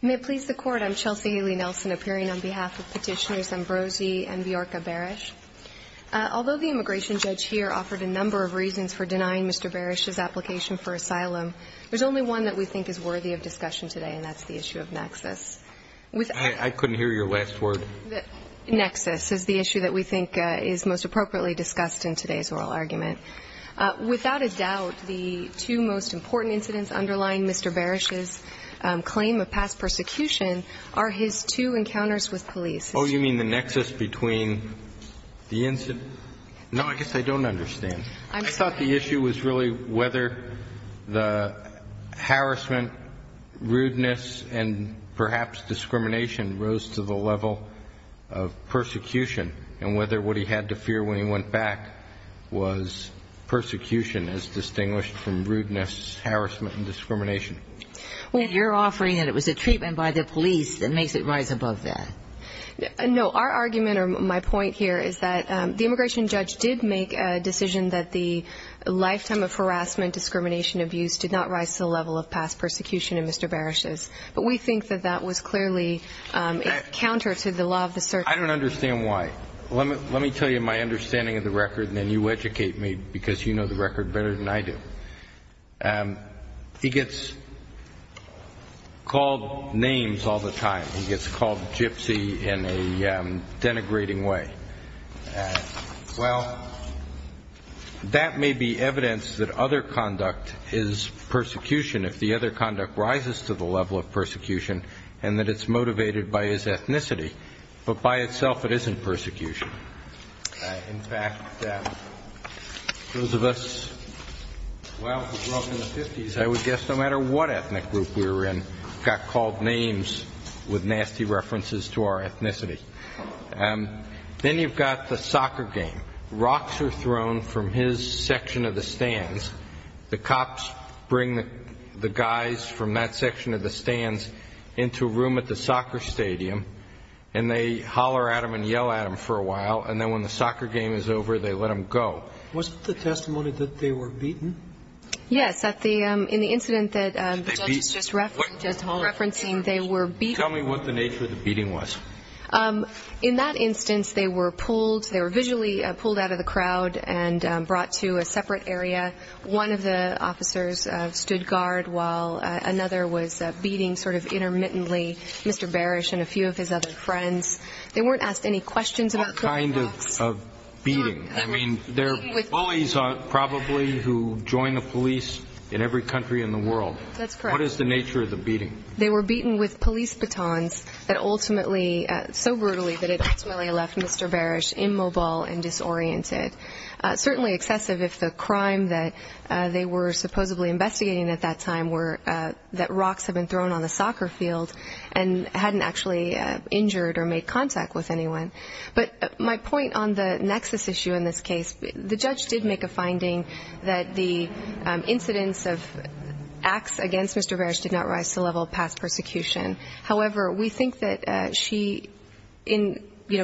May it please the Court, I'm Chelsea Ailey-Nelson. I'm here on behalf of Petitioners Ambrosie and Bjorka Beres. Although the immigration judge here offered a number of reasons for denying Mr. Beres's application for asylum, there's only one that we think is worthy of discussion today, and that's the issue of nexus. I couldn't hear your last word. Nexus is the issue that we think is most appropriately discussed in today's oral argument. Without a doubt, the two most important incidents underlying Mr. Beres's claim of past persecution are his two encounters with police. Oh, you mean the nexus between the incident? No, I guess I don't understand. I'm sorry. I thought the issue was really whether the harassment, rudeness, and perhaps discrimination rose to the level of persecution, and whether what he had to fear when he went back was persecution as distinguished from rudeness, harassment, and discrimination. And you're offering that it was a treatment by the police that makes it rise above that. No, our argument or my point here is that the immigration judge did make a decision that the lifetime of harassment, discrimination, abuse did not rise to the level of past persecution in Mr. Beres's, but we think that that was clearly counter to the law of the circuit. I don't understand why. Let me tell you my understanding of the record, and then you educate me because you know the record better than I do. He gets called names all the time. He gets called gypsy in a denigrating way. Well, that may be evidence that other conduct is persecution if the other conduct rises to the level of persecution, and that it's motivated by his ethnicity, but by itself it isn't persecution. In fact, those of us who grew up in the 50s, I would guess no matter what ethnic group we were in, got called names with nasty references to our ethnicity. Then you've got the soccer game. Rocks are thrown from his section of the stands. The cops bring the guys from that section of the stands into a room at the soccer stadium, and they holler at him and yell at him for a while, and then when the soccer game is over, they let him go. Was it the testimony that they were beaten? Yes, in the incident that the judge is just referencing, they were beaten. Tell me what the nature of the beating was. In that instance, they were pulled. They were visually pulled out of the crowd and brought to a separate area. One of the officers stood guard while another was beating sort of intermittently Mr. Barish and a few of his other friends. They weren't asked any questions. What kind of beating? I mean, they're bullies probably who join the police in every country in the world. That's correct. What is the nature of the beating? They were beaten with police batons that ultimately, so brutally, that it ultimately left Mr. Barish immobile and disoriented. Certainly excessive if the crime that they were supposedly investigating at that time that rocks had been thrown on the soccer field and hadn't actually injured or made contact with anyone. But my point on the nexus issue in this case, the judge did make a finding that the incidence of acts against Mr. Barish did not rise to the level of past persecution. However, we think that she,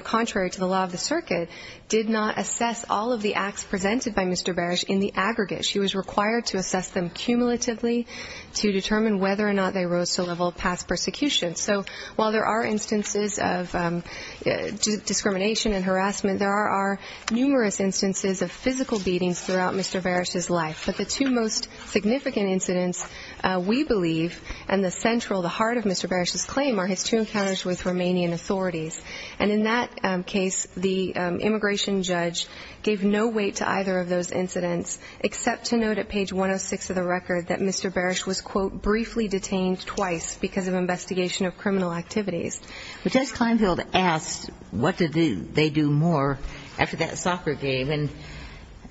contrary to the law of the circuit, did not assess all of the acts presented by Mr. Barish in the aggregate. She was required to assess them cumulatively to determine whether or not they rose to the level of past persecution. So while there are instances of discrimination and harassment, there are numerous instances of physical beatings throughout Mr. Barish's life. But the two most significant incidents, we believe, and the central, the heart of Mr. Barish's claim are his two encounters with Romanian authorities. And in that case, the immigration judge gave no weight to either of those incidents except to note at page 106 of the record that Mr. Barish was, quote, briefly detained twice because of investigation of criminal activities. But Judge Kleinfeld asked, what did they do more after that soccer game? And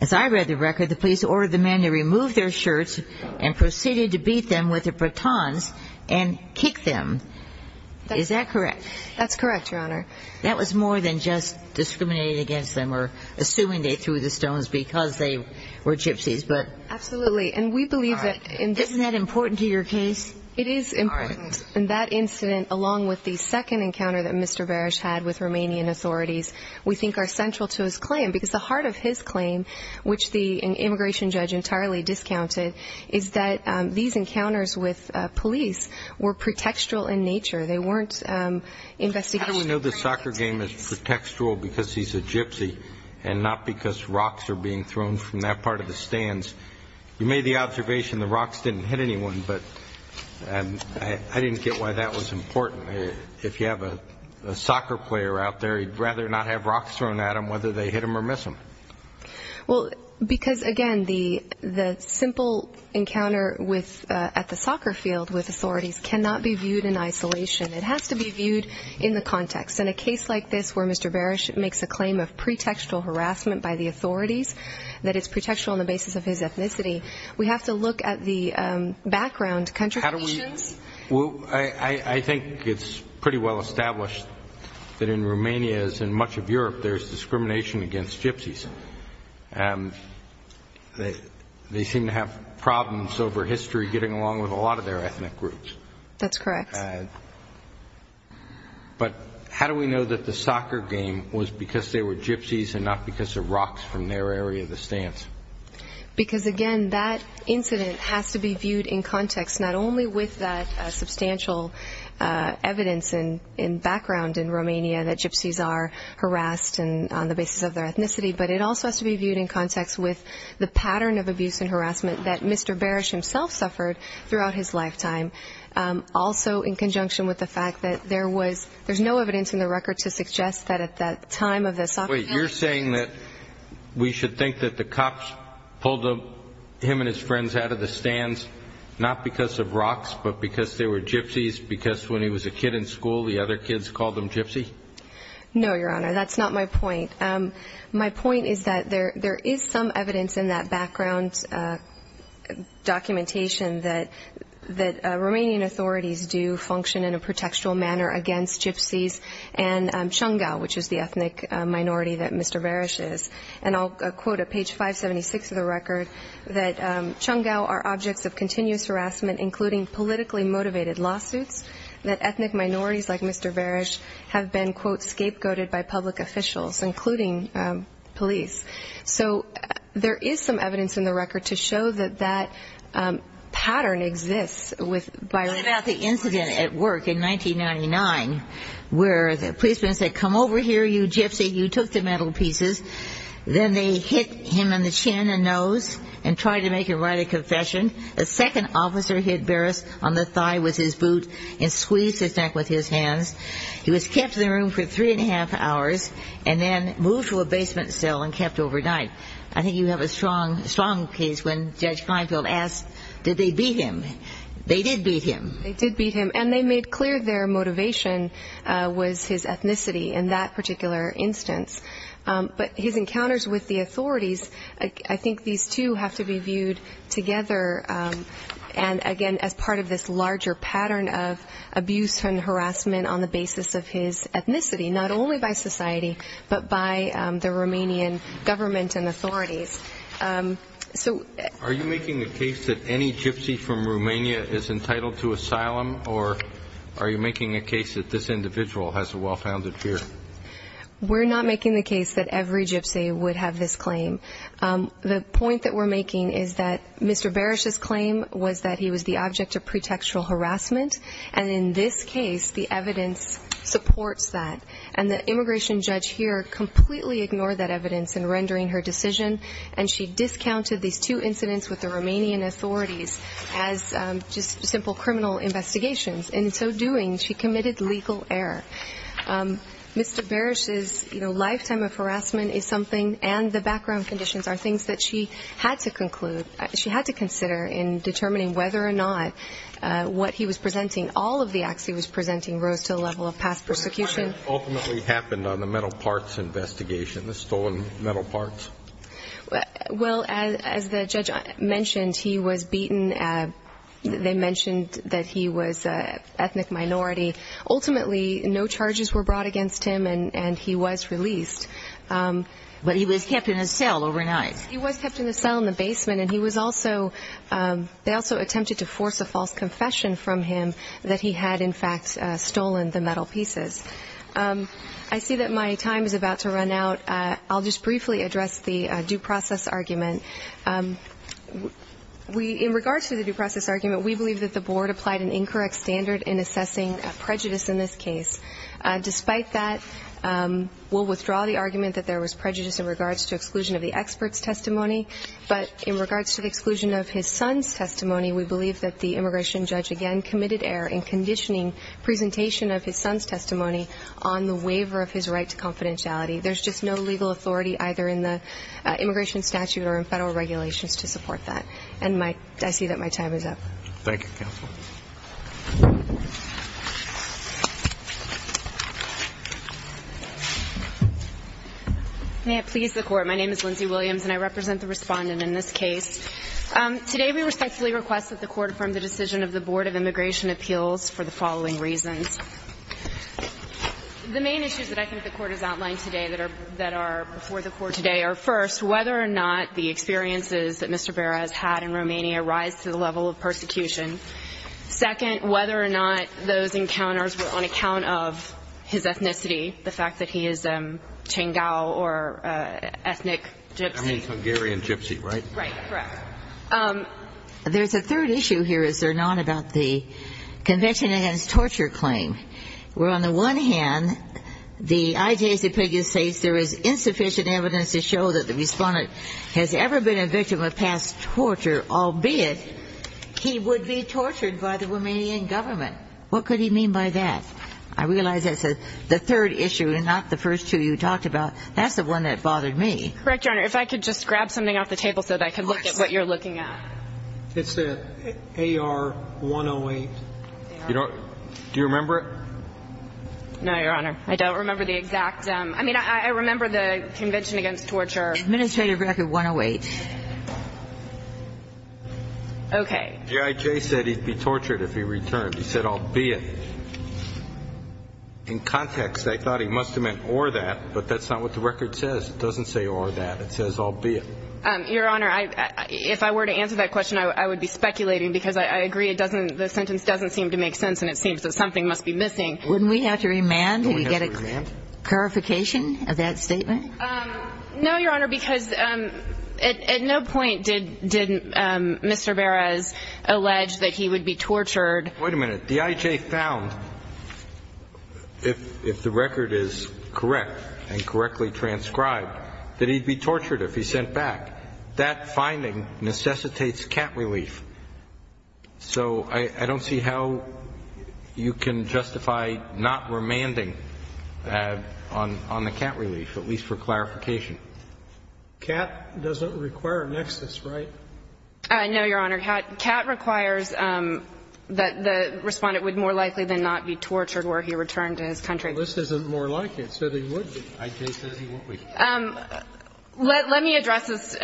as I read the record, the police ordered the men to remove their shirts and proceeded to beat them with their batons and kick them. Is that correct? That's correct, Your Honor. That was more than just discriminating against them or assuming they threw the stones because they were gypsies, but... Absolutely. And we believe that... Isn't that important to your case? It is important. And that incident, along with the second encounter that Mr. Barish had with Romanian authorities, we think are central to his claim because the heart of his claim, which the immigration judge entirely discounted, is that these encounters with police were pretextual in nature. They weren't investigational. How do we know the soccer game is pretextual because he's a gypsy and not because rocks are being thrown from that part of the stands? You made the observation the rocks didn't hit anyone, but I didn't get why that was important. If you have a soccer player out there, he'd rather not have rocks thrown at him whether they hit him or miss him. Well, because, again, the simple encounter at the soccer field with authorities cannot be viewed in isolation. It has to be viewed in the context. In a case like this where Mr. Barish makes a claim of pretextual harassment by the authorities that it's pretextual on the basis of his ethnicity, we have to look at the background contributions. How do we... Well, I think it's pretty well established that in Romania, as in much of Europe, there's discrimination against gypsies. They seem to have problems over history getting along with a lot of their ethnic groups. That's correct. But how do we know that the soccer game was because they were gypsies and not because of rocks from their area of the stands? Because, again, that incident has to be viewed in context, not only with that substantial evidence and background in Romania that gypsies are harassed on the basis of their ethnicity, but it also has to be viewed in context with the pattern of abuse and harassment that Mr. Barish made, also in conjunction with the fact that there was... There's no evidence in the record to suggest that at that time of the soccer game... Wait, you're saying that we should think that the cops pulled him and his friends out of the stands, not because of rocks, but because they were gypsies, because when he was a kid in school, the other kids called him gypsy? No, Your Honor. That's not my point. My point is that there is some evidence in that background documentation that Romanian authorities do function in a protectual manner against gypsies and Cungau, which is the ethnic minority that Mr. Barish is. And I'll quote at page 576 of the record that Cungau are objects of continuous harassment, including politically motivated lawsuits, that ethnic minorities like Mr. Barish have been, quote, scapegoated by public officials, including police. So there is some evidence in the record to show that that pattern exists with... About the incident at work in 1999, where the policeman said, come over here, you gypsy, you took the metal pieces. Then they hit him in the chin and nose and tried to make him write a confession. A second officer hit Barish on the thigh with his boot and squeezed his neck with his hands. He was kept in the room for three and a half hours and then moved to a basement cell and left overnight. I think you have a strong case when Judge Kleinfeld asked, did they beat him? They did beat him. They did beat him, and they made clear their motivation was his ethnicity in that particular instance. But his encounters with the authorities, I think these two have to be viewed together and, again, as part of this larger pattern of abuse and harassment on the basis of his government and authorities. So... Are you making the case that any gypsy from Romania is entitled to asylum, or are you making a case that this individual has a well-founded fear? We're not making the case that every gypsy would have this claim. The point that we're making is that Mr. Barish's claim was that he was the object of pretextual harassment, and in this case, the evidence supports that. And the immigration judge here completely ignored that evidence in rendering her decision, and she discounted these two incidents with the Romanian authorities as just simple criminal investigations. In so doing, she committed legal error. Mr. Barish's lifetime of harassment is something, and the background conditions are things that she had to conclude. She had to consider in determining whether or not what he was presenting, all of the acts he was presenting, rose to the level of past persecution. What ultimately happened on the metal parts investigation, the stolen metal parts? Well, as the judge mentioned, he was beaten. They mentioned that he was an ethnic minority. Ultimately, no charges were brought against him, and he was released. But he was kept in a cell overnight. He was kept in a cell in the basement, and he was also... They also attempted to force a false confession from him that he had, in fact, stolen the metal pieces. I see that my time is about to run out. I'll just briefly address the due process argument. In regards to the due process argument, we believe that the board applied an incorrect standard in assessing prejudice in this case. Despite that, we'll withdraw the argument that there was prejudice in regards to exclusion of the expert's testimony. But in regards to the exclusion of his son's testimony, we believe that the immigration on the waiver of his right to confidentiality. There's just no legal authority either in the immigration statute or in federal regulations to support that. And I see that my time is up. Thank you, counsel. May it please the court. My name is Lindsay Williams, and I represent the respondent in this case. Today, we respectfully request that the court affirm the decision of the Board of Immigration Appeals for the following reasons. The main issues that I think the court has outlined today that are before the court today are, first, whether or not the experiences that Mr. Berra has had in Romania rise to the level of persecution. Second, whether or not those encounters were on account of his ethnicity, the fact that he is a Tsingtao or ethnic Gypsy. I mean, Hungarian Gypsy, right? Right, correct. There's a third issue here, is there not, about the Convention Against Torture claim, where, on the one hand, the IJCPG states there is insufficient evidence to show that the respondent has ever been a victim of past torture, albeit he would be tortured by the Romanian government. What could he mean by that? I realize that's the third issue and not the first two you talked about. That's the one that bothered me. Correct, Your Honor. If I could just grab something off the table so that I could look at what you're looking at. It's the AR-108. You know, do you remember it? No, Your Honor. I don't remember the exact. I mean, I remember the Convention Against Torture. Administrative Record 108. Okay. G.I.J. said he'd be tortured if he returned. He said, albeit. In context, I thought he must have meant or that, but that's not what the record says. It doesn't say or that. It says albeit. Your Honor, if I were to answer that question, I would be speculating because I agree it doesn't seem to make sense and it seems that something must be missing. Wouldn't we have to remand? Do we get a clarification of that statement? No, Your Honor, because at no point did Mr. Beres allege that he would be tortured. Wait a minute. G.I.J. found, if the record is correct and correctly transcribed, that he'd be tortured if he sent back. That finding necessitates cat relief. So I don't see how you can justify not remanding on the cat relief, at least for clarification. Cat doesn't require nexus, right? No, Your Honor. Cat requires that the respondent would more likely than not be tortured where he returned to his country. This isn't more like it. So they would be. I.J. said he wouldn't be. Um, let me address this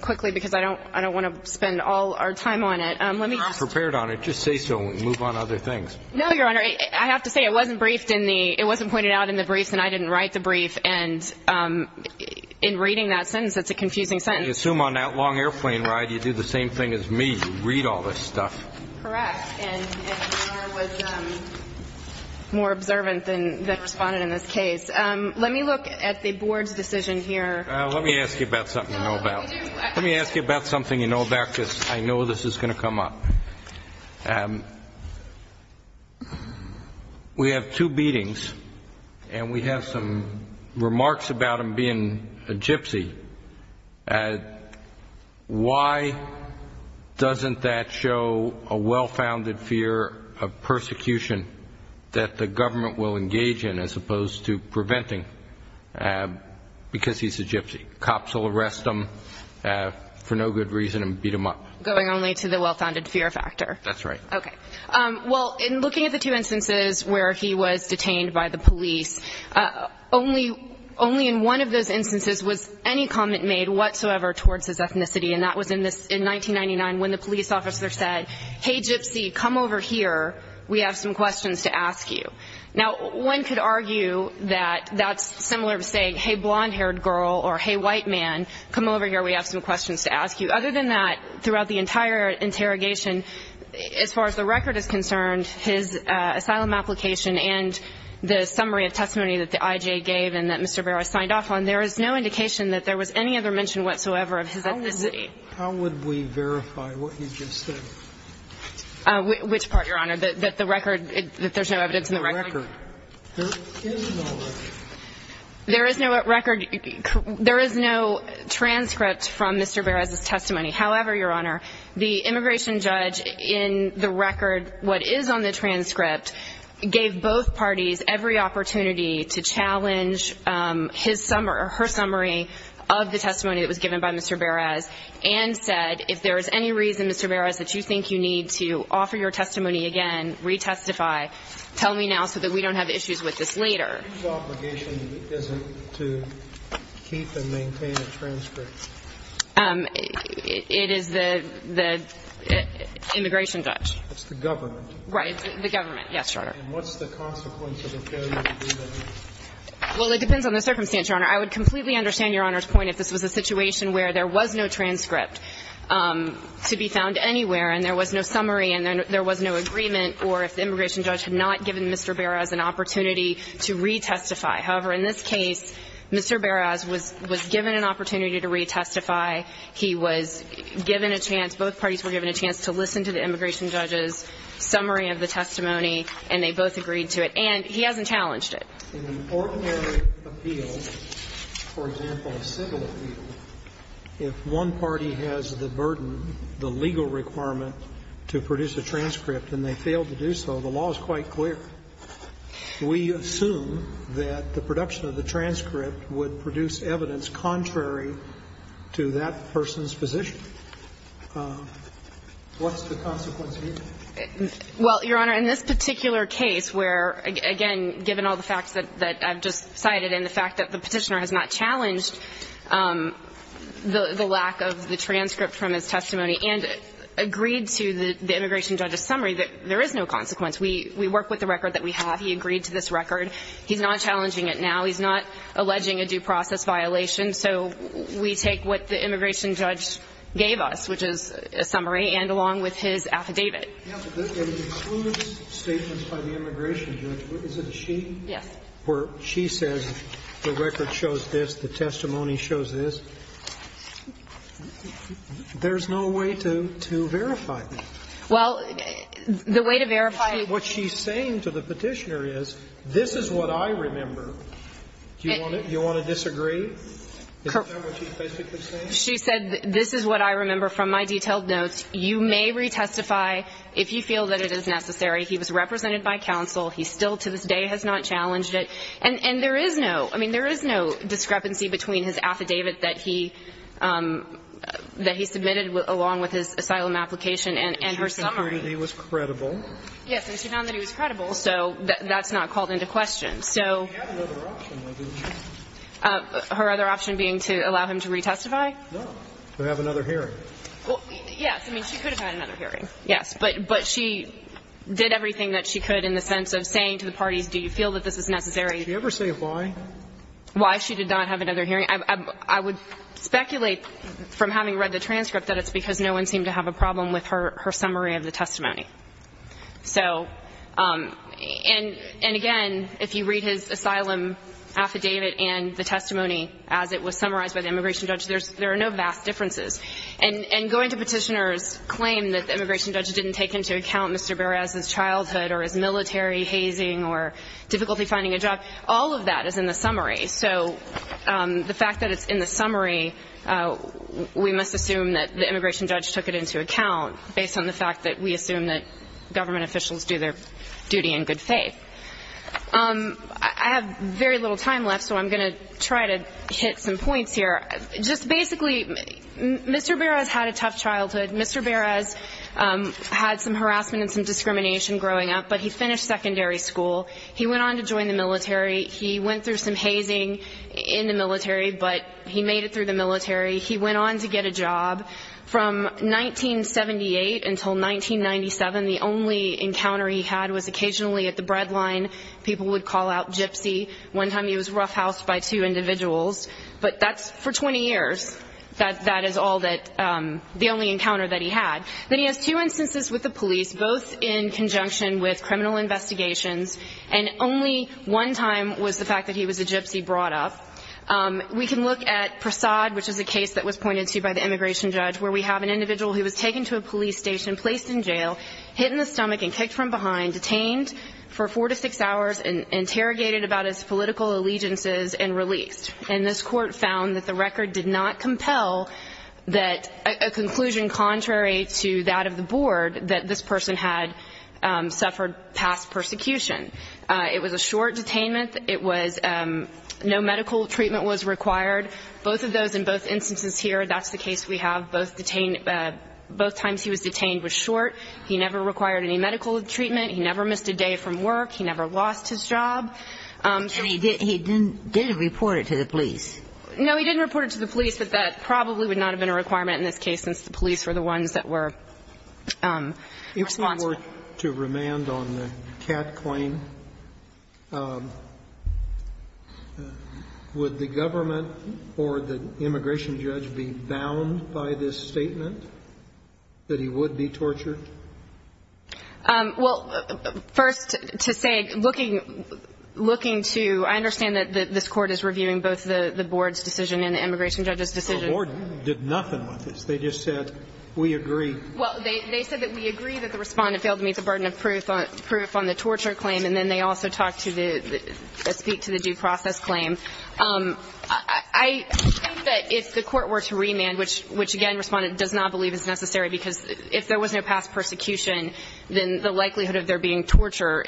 quickly because I don't I don't want to spend all our time on it. Let me. I'm prepared on it. Just say so. Move on other things. No, Your Honor. I have to say it wasn't briefed in the it wasn't pointed out in the briefs and I didn't write the brief. And in reading that sentence, it's a confusing sentence. I assume on that long airplane ride, you do the same thing as me. You read all this stuff. Correct. And your Honor was more observant than the respondent in this case. Let me look at the board's decision here. Let me ask you about something you know about. Let me ask you about something you know about because I know this is going to come up. We have two beatings and we have some remarks about him being a gypsy. Why doesn't that show a well-founded fear of persecution that the government will engage in as opposed to preventing because he's a gypsy. Cops will arrest him for no good reason and beat him up. Going only to the well-founded fear factor. That's right. Okay. Well, in looking at the two instances where he was detained by the police, only in one of those instances was any comment made whatsoever towards his ethnicity. And that was in 1999 when the police officer said, hey, gypsy, come over here. We have some questions to ask you. Now, one could argue that that's similar to saying, hey, blonde-haired girl or hey, white man, come over here. We have some questions to ask you. Other than that, throughout the entire interrogation, as far as the record is concerned, his asylum application and the summary of testimony that the IJ gave and that Mr. Vera signed off on, there is no indication that there was any other mention whatsoever of his ethnicity. How would we verify what you just said? Which part, Your Honor? That the record, that there's no evidence in the record? There is no record. There is no transcript from Mr. Beres' testimony. However, Your Honor, the immigration judge in the record, what is on the transcript, gave both parties every opportunity to challenge his summary or her summary of the testimony that was given by Mr. Beres and said, if there is any reason, Mr. Beres, that you think you need to offer your testimony again, re-testify, tell me now so that we don't have issues with this later. Whose obligation is it to keep and maintain a transcript? It is the immigration judge. It's the government. Right. The government. Yes, Your Honor. And what's the consequence of a failure to do that? Well, it depends on the circumstance, Your Honor. I would completely understand Your Honor's point if this was a situation where there was no transcript to be found anywhere and there was no summary and there was no agreement or if the immigration judge had not given Mr. Beres an opportunity to re-testify. However, in this case, Mr. Beres was given an opportunity to re-testify. He was given a chance, both parties were given a chance to listen to the immigration judge's summary of the testimony, and they both agreed to it. And he hasn't challenged it. In an ordinary appeal, for example, a civil appeal, if one party has the burden, the legal requirement to produce a transcript and they fail to do so, the law is quite clear. We assume that the production of the transcript would produce evidence contrary to that person's position. What's the consequence here? Well, Your Honor, in this particular case where, again, given all the facts that I've just cited and the fact that the petitioner has not challenged the lack of the transcript from his testimony and agreed to the immigration judge's summary, that there is no consequence. We work with the record that we have. He agreed to this record. He's not challenging it now. He's not alleging a due process violation. So we take what the immigration judge gave us, which is a summary, and along with his testimony. David. Yes, but this includes statements by the immigration judge? Is it she? Yes. Where she says the record shows this? The testimony shows this? There's no way to verify that? Well, the way to verify what she's saying to the petitioner is, this is what I remember. Do you want to disagree? Is that what she's basically saying? She said, this is what I remember from my detailed notes. You may retestify if you feel that it is necessary. He was represented by counsel. He still, to this day, has not challenged it. And there is no, I mean, there is no discrepancy between his affidavit that he submitted along with his asylum application and her summary. And she found that he was credible. Yes, and she found that he was credible, so that's not called into question. She had another option, maybe. Her other option being to allow him to retestify? No, to have another hearing. Well, yes, I mean, she could have had another hearing, yes. But she did everything that she could in the sense of saying to the parties, do you feel that this is necessary? Did she ever say why? Why she did not have another hearing. I would speculate from having read the transcript that it's because no one seemed to have a problem with her summary of the testimony. So, and again, if you read his asylum affidavit and the testimony as it was summarized by the immigration judge, there are no vast differences. And going to Petitioner's claim that the immigration judge didn't take into account Mr. Beres' childhood or his military hazing or difficulty finding a job, all of that is in the summary. So the fact that it's in the summary, we must assume that the immigration judge took it into account based on the fact that we assume that government officials do their duty in good faith. I have very little time left, so I'm going to try to hit some points here. Just basically, Mr. Beres had a tough childhood. Mr. Beres had some harassment and some discrimination growing up, but he finished secondary school. He went on to join the military. He went through some hazing in the military, but he made it through the military. He went on to get a job. From 1978 until 1997, the only encounter he had was occasionally at the bread line. People would call out gypsy. One time he was roughhoused by two individuals. But that's for 20 years. That is all that, the only encounter that he had. Then he has two instances with the police, both in conjunction with criminal investigations. And only one time was the fact that he was a gypsy brought up. We can look at Prasad, which is a case that was pointed to by the immigration judge, where we have an individual who was taken to a police station, placed in jail, hit in the stomach, and kicked from behind, detained for four to six hours, and interrogated about his political allegiances, and released. And this court found that the record did not compel a conclusion contrary to that of the board that this person had suffered past persecution. It was a short detainment. It was no medical treatment was required. Both of those in both instances here, that's the case we have. Both detained – both times he was detained was short. He never required any medical treatment. He never missed a day from work. He never lost his job. So he didn't – he didn't report it to the police. No, he didn't report it to the police, but that probably would not have been a requirement in this case, since the police were the ones that were responsible. If the board were to remand on the Catt claim, would the government or the immigration judge be bound by this statement, that he would be tortured? Well, first, to say, looking – looking to – I understand that this court is reviewing both the board's decision and the immigration judge's decision. The board did nothing with this. They just said, we agree. Well, they said that we agree that the Respondent failed to meet the burden of proof on the torture claim, and then they also talked to the – speak to the due process claim. I think that if the court were to remand, which, again, Respondent does not believe is necessary, because if there was no past persecution, then the likelihood of there being torture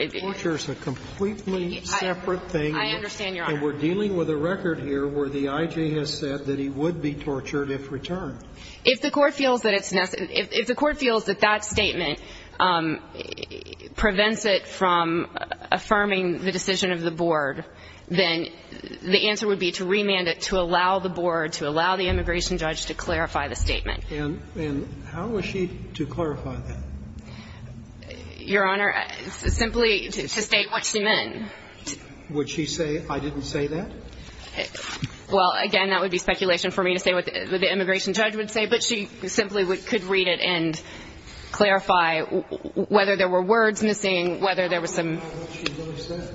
– Torture is a completely separate thing. I understand, Your Honor. And we're dealing with a record here where the I.J. has said that he would be tortured if returned. If the court feels that it's – if the court feels that that statement prevents it from affirming the decision of the board, then the answer would be to remand it to allow the board, to allow the immigration judge to clarify the statement. And how was she to clarify that? Your Honor, simply to state what she meant. Would she say, I didn't say that? Well, again, that would be speculation for me to say what the immigration judge would say, but she simply could read it and clarify whether there were words missing, whether there was some – How would she know she said it?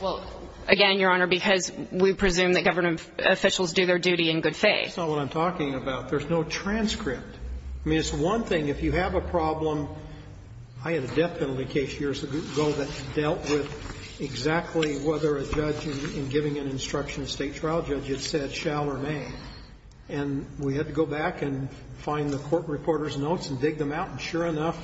Well, again, Your Honor, because we presume that government officials do their duty in good faith. That's not what I'm talking about. There's no transcript. I mean, it's one thing if you have a problem – I had a death penalty case years ago that dealt with exactly whether a judge in giving an instruction, a State trial judge, had said shall or may. And we had to go back and find the court reporter's notes and dig them out, and sure enough,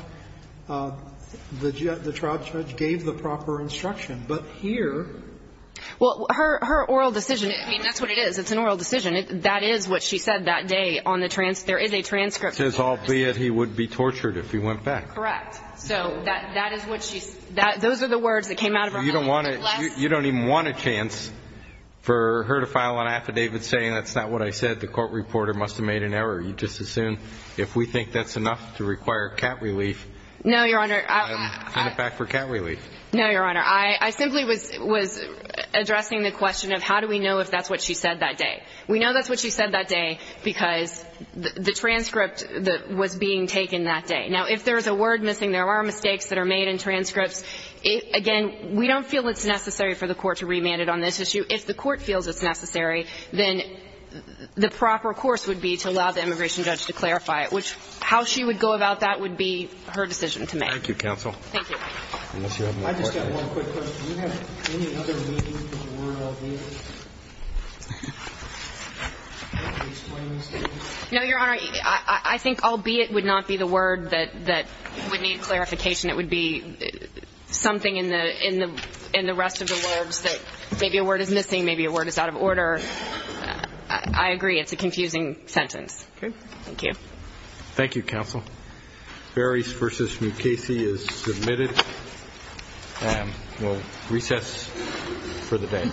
the trial judge gave the proper instruction. But here – Well, her oral decision – I mean, that's what it is. It's an oral decision. That is what she said that day on the – there is a transcript. It says, albeit he would be tortured if he went back. Correct. So that is what she – those are the words that came out of her mouth. You don't want to – you don't even want a chance for her to file an affidavit saying that's not what I said. The court reporter must have made an error. You just assume if we think that's enough to require cat relief – No, Your Honor – I'll send it back for cat relief. No, Your Honor. I simply was addressing the question of how do we know if that's what she said that day. We know that's what she said that day because the transcript was being taken that day. Now, if there's a word missing, there are mistakes that are made in transcripts. Again, we don't feel it's necessary for the court to remand it on this issue. If the court feels it's necessary, then the proper course would be to allow the immigration judge to clarify it, which – how she would go about that would be her decision to make. Thank you, counsel. Thank you. I just got one quick question. Can you explain this to me? No, Your Honor, I think albeit would not be the word that would need clarification. It would be something in the rest of the words that maybe a word is missing, maybe a word is out of order. I agree it's a confusing sentence. Thank you. Thank you, counsel. Beres v. Mukasey is submitted and we'll recess for the day.